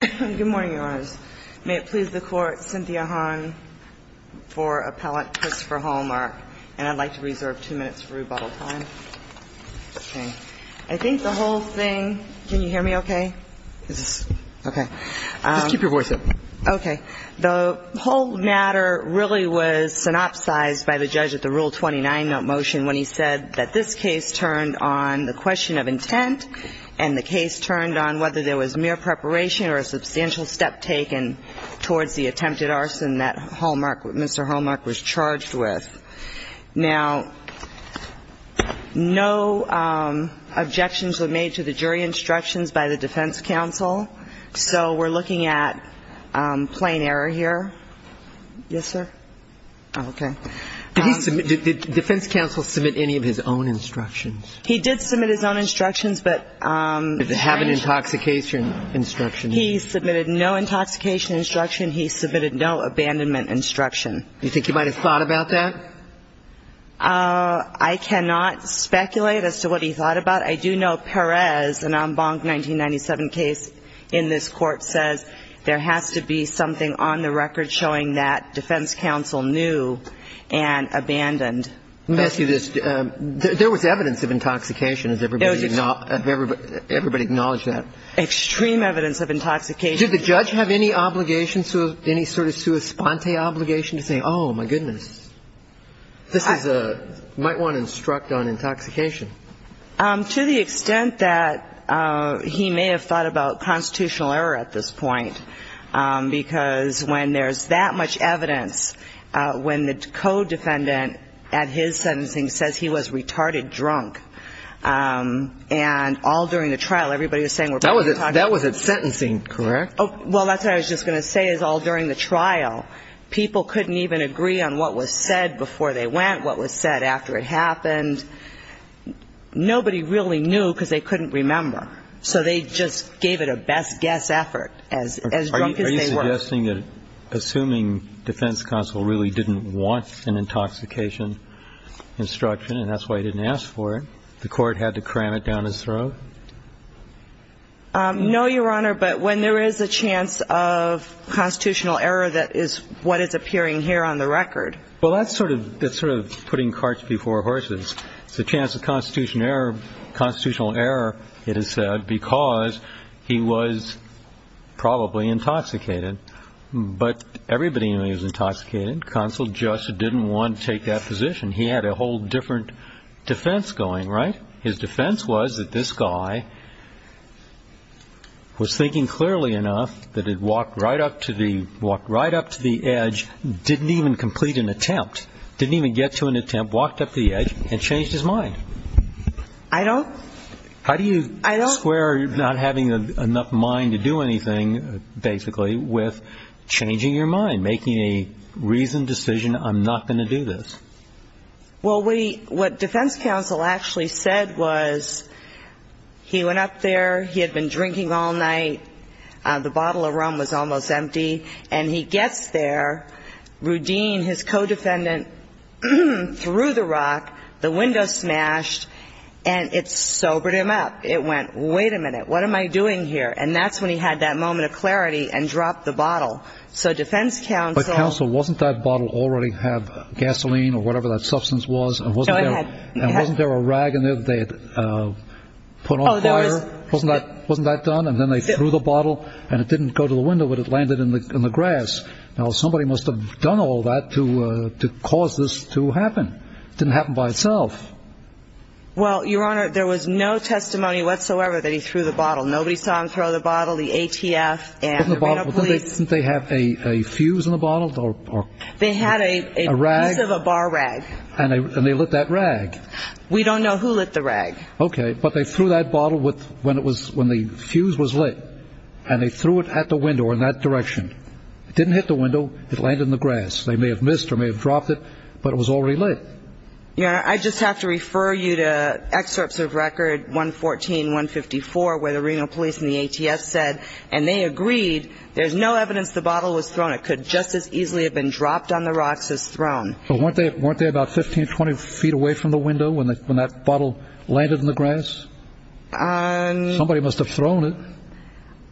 Good morning, Your Honors. May it please the Court, Cynthia Hahn for appellate Christopher Hallmark, and I'd like to reserve two minutes for rebuttal time. Okay. I think the whole thing – can you hear me okay? Is this – okay. Just keep your voice up. Okay. The whole matter really was synopsized by the judge at the Rule 29 motion when he said that this case turned on the question of intent and the case turned on whether there was mere preparation or a substantial step taken towards the attempted arson that Hallmark – Mr. Hallmark was charged with. Now, no objections were made to the jury instructions by the defense counsel, so we're looking at plain error here. Yes, sir? Okay. Did he submit – did defense counsel submit any of his own instructions? He did submit his own instructions, but – Did he have an intoxication instruction? He submitted no intoxication instruction. He submitted no abandonment instruction. You think he might have thought about that? I cannot speculate as to what he thought about. I do know Perez, an en banc 1997 case in this Court, says there has to be something on the record showing that defense counsel knew and abandoned. Let me ask you this. There was evidence of intoxication. Everybody acknowledge that? Extreme evidence of intoxication. Did the judge have any obligation, any sort of sua sponte obligation to say, oh, my goodness, this is a – might want to instruct on intoxication? To the extent that he may have thought about constitutional error at this point, because when there's that much evidence, when the co-defendant at his sentencing says he was retarded drunk, and all during the trial, everybody was saying – That was at sentencing, correct? Well, that's what I was just going to say, is all during the trial, people couldn't even agree on what was said before they went, what was said after it happened. Nobody really knew because they couldn't remember, so they just gave it a best guess effort as drunk as they were. Are you suggesting that – assuming defense counsel really didn't want an intoxication instruction and that's why he didn't ask for it, the Court had to cram it down his throat? No, Your Honor, but when there is a chance of constitutional error, that is what is appearing here on the record. Well, that's sort of putting carts before horses. It's a chance of constitutional error, it is said, because he was probably intoxicated. But everybody knew he was intoxicated. Counsel just didn't want to take that position. He had a whole different defense going, right? His defense was that this guy was thinking clearly enough that he'd walked right up to the edge, didn't even complete an attempt, didn't even get to an attempt, walked up to the edge and changed his mind. I don't. How do you square not having enough mind to do anything, basically, with changing your mind, making a reasoned decision, I'm not going to do this? Well, what defense counsel actually said was he went up there, he had been drinking all night, the bottle of rum was almost empty, and he gets there, Rudeen, his co-defendant, threw the rock, the window smashed, and it sobered him up. It went, wait a minute, what am I doing here? And that's when he had that moment of clarity and dropped the bottle. So defense counsel --- But, counsel, wasn't that bottle already have gasoline or whatever that substance was? And wasn't there a rag in there that they had put on fire? Wasn't that done? And then they threw the bottle, and it didn't go to the window, but it landed in the grass. Now, somebody must have done all that to cause this to happen. It didn't happen by itself. Well, Your Honor, there was no testimony whatsoever that he threw the bottle. Nobody saw him throw the bottle, the ATF and the Reno police. Didn't they have a fuse in the bottle? They had a piece of a bar rag. And they lit that rag. We don't know who lit the rag. Okay, but they threw that bottle when the fuse was lit, and they threw it at the window or in that direction. It didn't hit the window. It landed in the grass. They may have missed or may have dropped it, but it was already lit. Your Honor, I just have to refer you to excerpts of record 114, 154, where the Reno police and the ATF said, and they agreed, there's no evidence the bottle was thrown. It could just as easily have been dropped on the rocks as thrown. But weren't they about 15, 20 feet away from the window when that bottle landed in the grass? Somebody must have thrown it.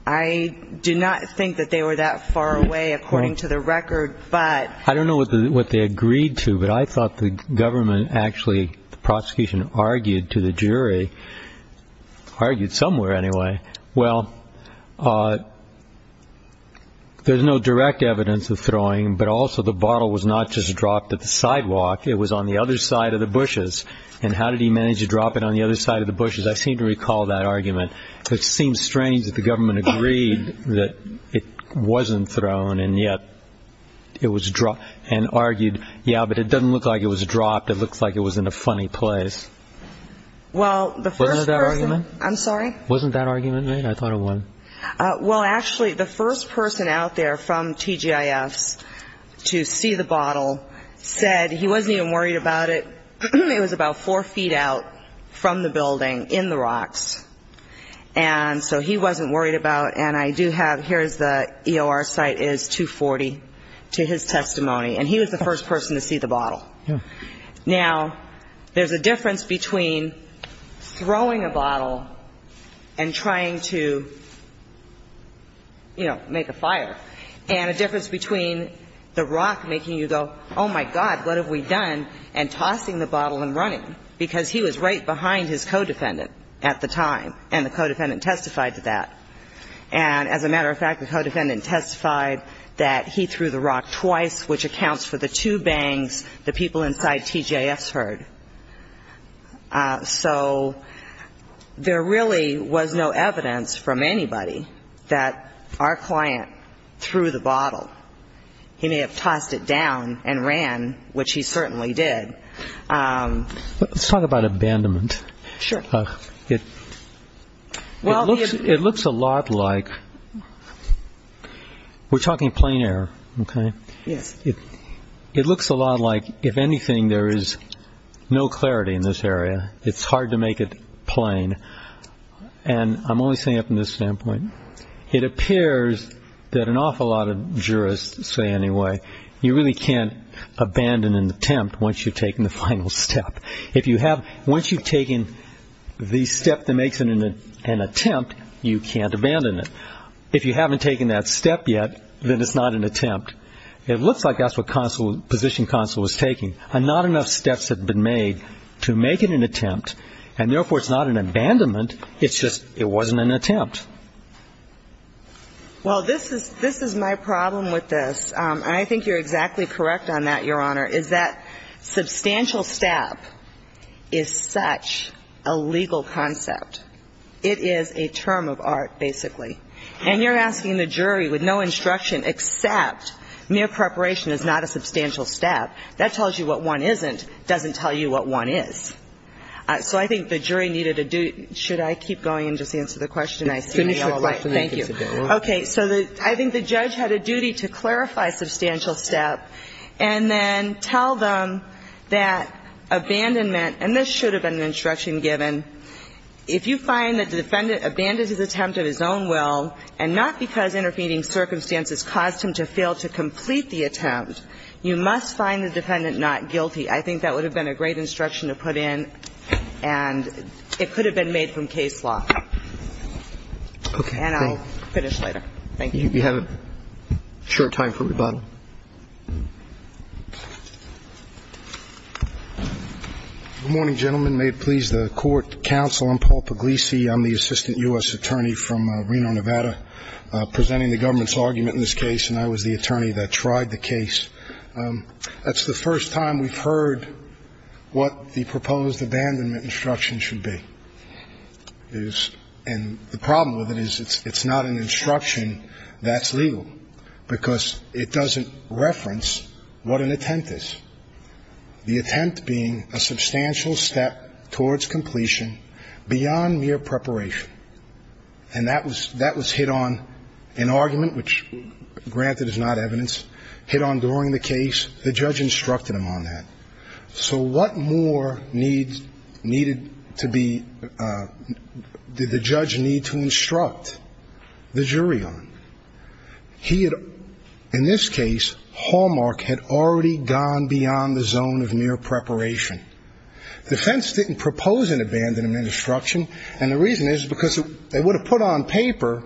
I do not think that they were that far away, according to the record. I don't know what they agreed to, but I thought the government actually, the prosecution argued to the jury, argued somewhere anyway, well, there's no direct evidence of throwing, but also the bottle was not just dropped at the sidewalk, it was on the other side of the bushes. And how did he manage to drop it on the other side of the bushes? I seem to recall that argument. It seems strange that the government agreed that it wasn't thrown and yet it was dropped and argued, yeah, but it doesn't look like it was dropped, it looks like it was in a funny place. Wasn't it that argument? I'm sorry? Wasn't that argument made? I thought it was. Well, actually, the first person out there from TGIFs to see the bottle said he wasn't even worried about it. It was about four feet out from the building in the rocks, and so he wasn't worried about it. And I do have, here is the EOR site is 240 to his testimony. And he was the first person to see the bottle. Now, there's a difference between throwing a bottle and trying to, you know, make a fire. And a difference between the rock making you go, oh, my God, what have we done, and tossing the bottle and running. Because he was right behind his co-defendant at the time, and the co-defendant testified to that. And as a matter of fact, the co-defendant testified that he threw the rock twice, which accounts for the two bangs the people inside TGIFs heard. So there really was no evidence from anybody that our client threw the bottle. He may have tossed it down and ran, which he certainly did. Let's talk about abandonment. Sure. It looks a lot like we're talking plain air, okay? Yes. It looks a lot like if anything, there is no clarity in this area. It's hard to make it plain. And I'm only saying it from this standpoint. It appears that an awful lot of jurists say anyway, you really can't abandon an attempt once you've taken the final step. Once you've taken the step that makes it an attempt, you can't abandon it. If you haven't taken that step yet, then it's not an attempt. It looks like that's what position counsel was taking. And not enough steps have been made to make it an attempt, and therefore it's not an abandonment. It's just it wasn't an attempt. Well, this is my problem with this. And I think you're exactly correct on that, Your Honor, is that substantial stab is such a legal concept. It is a term of art, basically. And you're asking the jury with no instruction except mere preparation is not a substantial stab. That tells you what one isn't. It doesn't tell you what one is. So I think the jury needed a duty. Should I keep going and just answer the question? I see you all right. Thank you. Okay. So I think the judge had a duty to clarify substantial stab and then tell them that abandonment, and this should have been an instruction given, if you find that the defendant abandons his attempt of his own will and not because intervening circumstances caused him to fail to complete the attempt, you must find the defendant not guilty. I think that would have been a great instruction to put in, and it could have been made from case law. Okay. And I'll finish later. Thank you. You have a short time for rebuttal. Good morning, gentlemen. May it please the court, counsel. I'm Paul Puglisi. I'm the assistant U.S. attorney from Reno, Nevada, presenting the government's argument in this case, and I was the attorney that tried the case. That's the first time we've heard what the proposed abandonment instruction should be. And the problem with it is it's not an instruction that's legal because it doesn't reference what an attempt is, the attempt being a substantial step towards completion beyond mere preparation. And that was hit on in argument, which, granted, is not evidence, hit on during the case. The judge instructed him on that. So what more needed to be the judge need to instruct the jury on? He had, in this case, Hallmark had already gone beyond the zone of mere preparation. The defense didn't propose an abandonment instruction, and the reason is because they would have put on paper,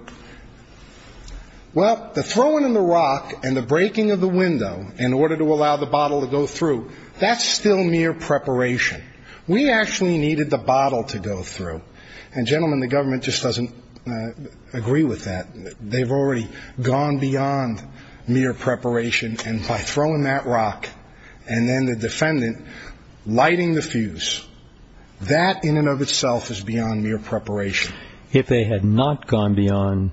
well, the throwing of the rock and the breaking of the window in order to allow the bottle to go through, that's still mere preparation. We actually needed the bottle to go through. And, gentlemen, the government just doesn't agree with that. They've already gone beyond mere preparation, and by throwing that rock and then the defendant lighting the fuse, that in and of itself is beyond mere preparation. If they had not gone beyond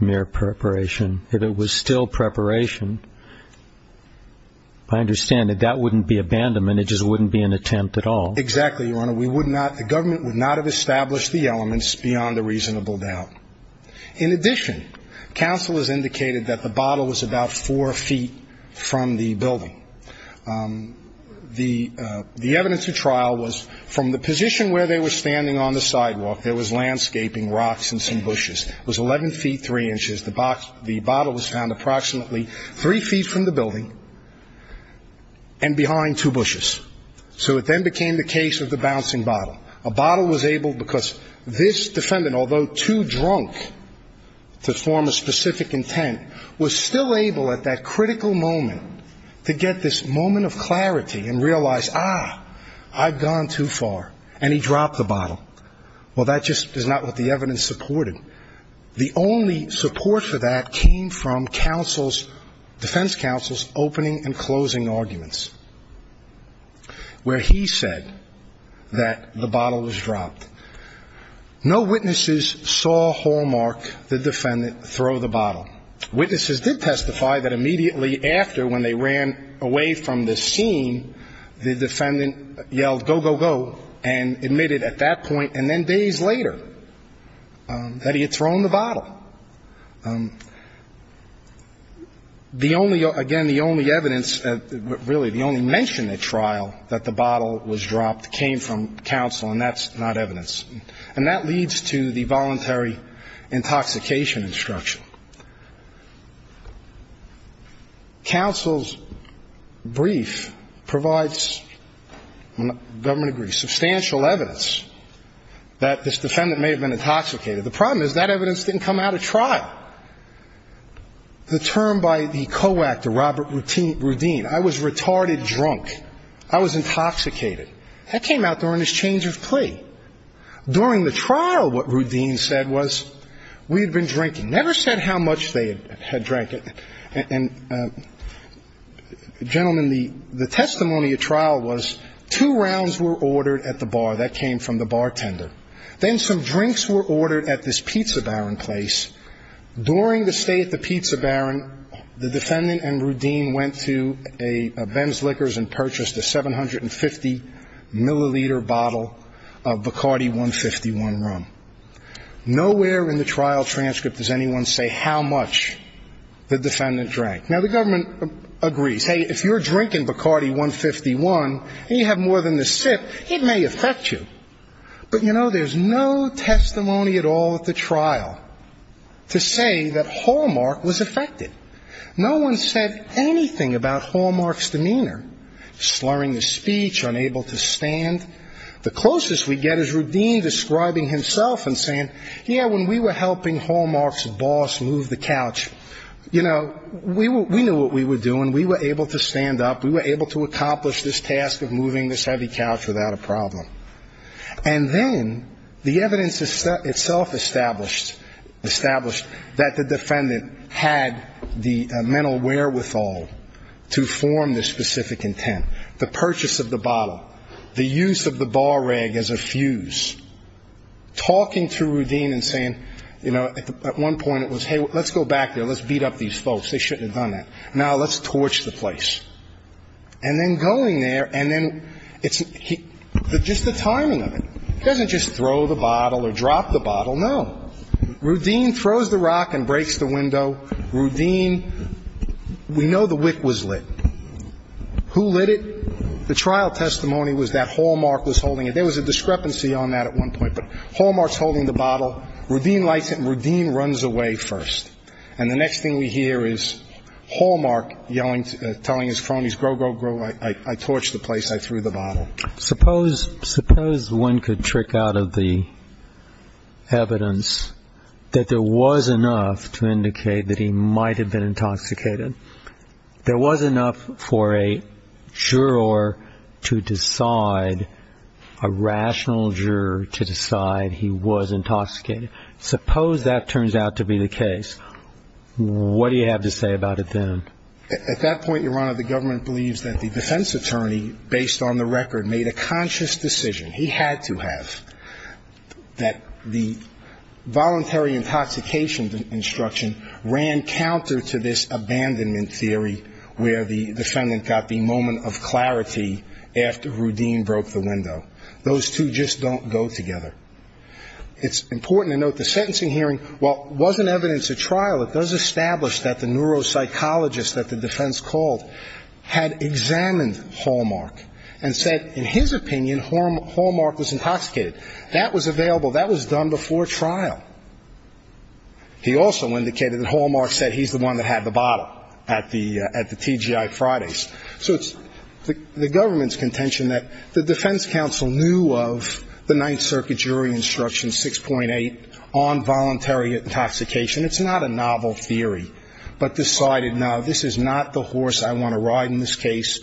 mere preparation, if it was still preparation, I understand that that wouldn't be abandonment. It just wouldn't be an attempt at all. Exactly, Your Honor. We would not, the government would not have established the elements beyond a reasonable doubt. In addition, counsel has indicated that the bottle was about four feet from the building. The evidence of trial was from the position where they were standing on the sidewalk, there was landscaping, rocks, and some bushes. It was 11 feet 3 inches. The bottle was found approximately three feet from the building and behind two bushes. So it then became the case of the bouncing bottle. A bottle was able, because this defendant, although too drunk to form a specific intent, was still able at that critical moment to get this moment of clarity and realize, ah, I've gone too far. And he dropped the bottle. Well, that just is not what the evidence supported. The only support for that came from counsel's, defense counsel's opening and dropped. No witnesses saw Hallmark, the defendant, throw the bottle. Witnesses did testify that immediately after, when they ran away from the scene, the defendant yelled, go, go, go, and admitted at that point and then days later that he had thrown the bottle. The only, again, the only evidence, really the only mention at trial that the bottle was dropped came from counsel, and that's not evidence. And that leads to the voluntary intoxication instruction. Counsel's brief provides, when the government agrees, substantial evidence that this defendant may have been intoxicated. The problem is that evidence didn't come out at trial. The term by the co-actor, Robert Rudine, I was retarded drunk. I was intoxicated. That came out during this change of plea. During the trial, what Rudine said was, we had been drinking. Never said how much they had drank. And, gentlemen, the testimony at trial was two rounds were ordered at the bar. That came from the bartender. Then some drinks were ordered at this Pizza Baron place. During the stay at the Pizza Baron, the defendant and Rudine went to a Ben's Liquors and purchased a 750-milliliter bottle of Bacardi 151 rum. Nowhere in the trial transcript does anyone say how much the defendant drank. Now, the government agrees. Hey, if you're drinking Bacardi 151 and you have more than the sip, it may affect you. But, you know, there's no testimony at all at the trial to say that Hallmark was affected. No one said anything about Hallmark's demeanor. Slurring his speech, unable to stand. The closest we get is Rudine describing himself and saying, yeah, when we were helping Hallmark's boss move the couch, you know, we knew what we were doing. We were able to stand up. We were able to accomplish this task of moving this heavy couch without a problem. And then the evidence itself established that the defendant had the mental wherewithal to form this specific intent. The purchase of the bottle. The use of the bar rag as a fuse. Talking to Rudine and saying, you know, at one point it was, hey, let's go back there. Let's beat up these folks. They shouldn't have done that. Now let's torch the place. And then going there and then it's just the timing of it. He doesn't just throw the bottle or drop the bottle. No. Rudine throws the rock and breaks the window. Rudine, we know the wick was lit. Who lit it? The trial testimony was that Hallmark was holding it. There was a discrepancy on that at one point. But Hallmark's holding the bottle. Rudine lights it and Rudine runs away first. And the next thing we hear is Hallmark telling his cronies, go, go, go. I torched the place. I threw the bottle. Suppose one could trick out of the evidence that there was enough to indicate that he might have been intoxicated. There was enough for a juror to decide, a rational juror to decide he was intoxicated. Suppose that turns out to be the case. What do you have to say about it then? At that point, Your Honor, the government believes that the defense attorney, based on the record, made a conscious decision, he had to have, that the voluntary intoxication instruction ran counter to this abandonment theory where the defendant got the moment of clarity after Rudine broke the window. Those two just don't go together. It's important to note the sentencing hearing, while it wasn't evidence at trial, it does establish that the neuropsychologist that the defense called had examined Hallmark and said in his opinion Hallmark was intoxicated. That was available. That was done before trial. He also indicated that Hallmark said he's the one that had the bottle at the TGI Fridays. So it's the government's contention that the defense counsel knew of the Ninth Circuit jury instruction 6.8 on voluntary intoxication. It's not a novel theory, but decided no, this is not the horse I want to ride in this case.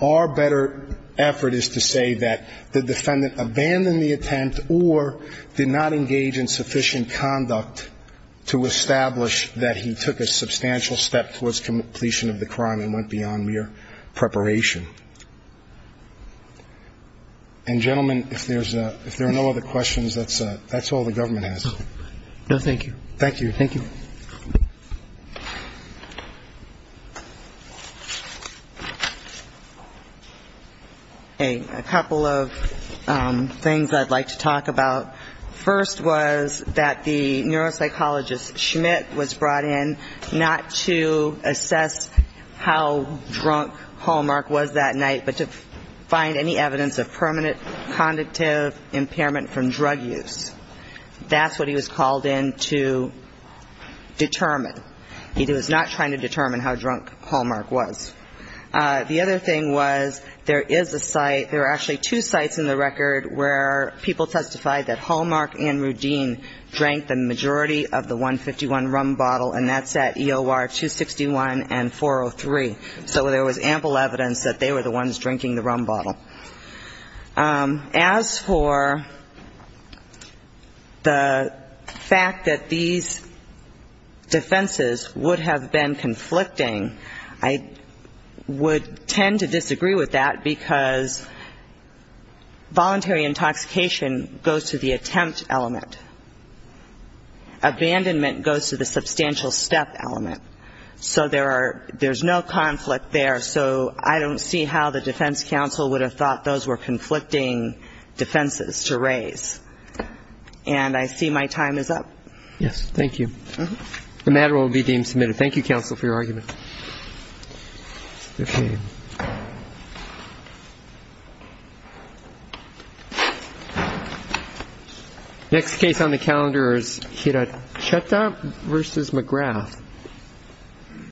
Our better effort is to say that the defendant abandoned the attempt or did not engage in sufficient conduct to establish that he took a substantial step towards completion of the crime and went beyond mere preparation. And, gentlemen, if there are no other questions, that's all the government has. No, thank you. Thank you. Thank you. A couple of things I'd like to talk about. First was that the neuropsychologist Schmidt was brought in not to assess how drunk Hallmark was that night, but to find any evidence of permanent conductive impairment from drug use. That's what he was called in to determine. He was not trying to determine how drunk Hallmark was. The other thing was there is a site, there are actually two sites in the record where people testified that Hallmark and Rudine drank the majority of the 151 rum bottle, and that's at EOR 261 and 403. So there was ample evidence that they were the ones drinking the rum bottle. As for the fact that these defenses would have been conflicting, I don't think there was any evidence that Hallmark and Rudine would tend to disagree with that, because voluntary intoxication goes to the attempt element. Abandonment goes to the substantial step element. So there's no conflict there, so I don't see how the defense counsel would have thought those were conflicting defenses to raise. And I see my time is up. Yes, thank you. The matter will be deemed submitted. Thank you, counsel, for your argument. Next case on the calendar is Hiracheta v. McGrath.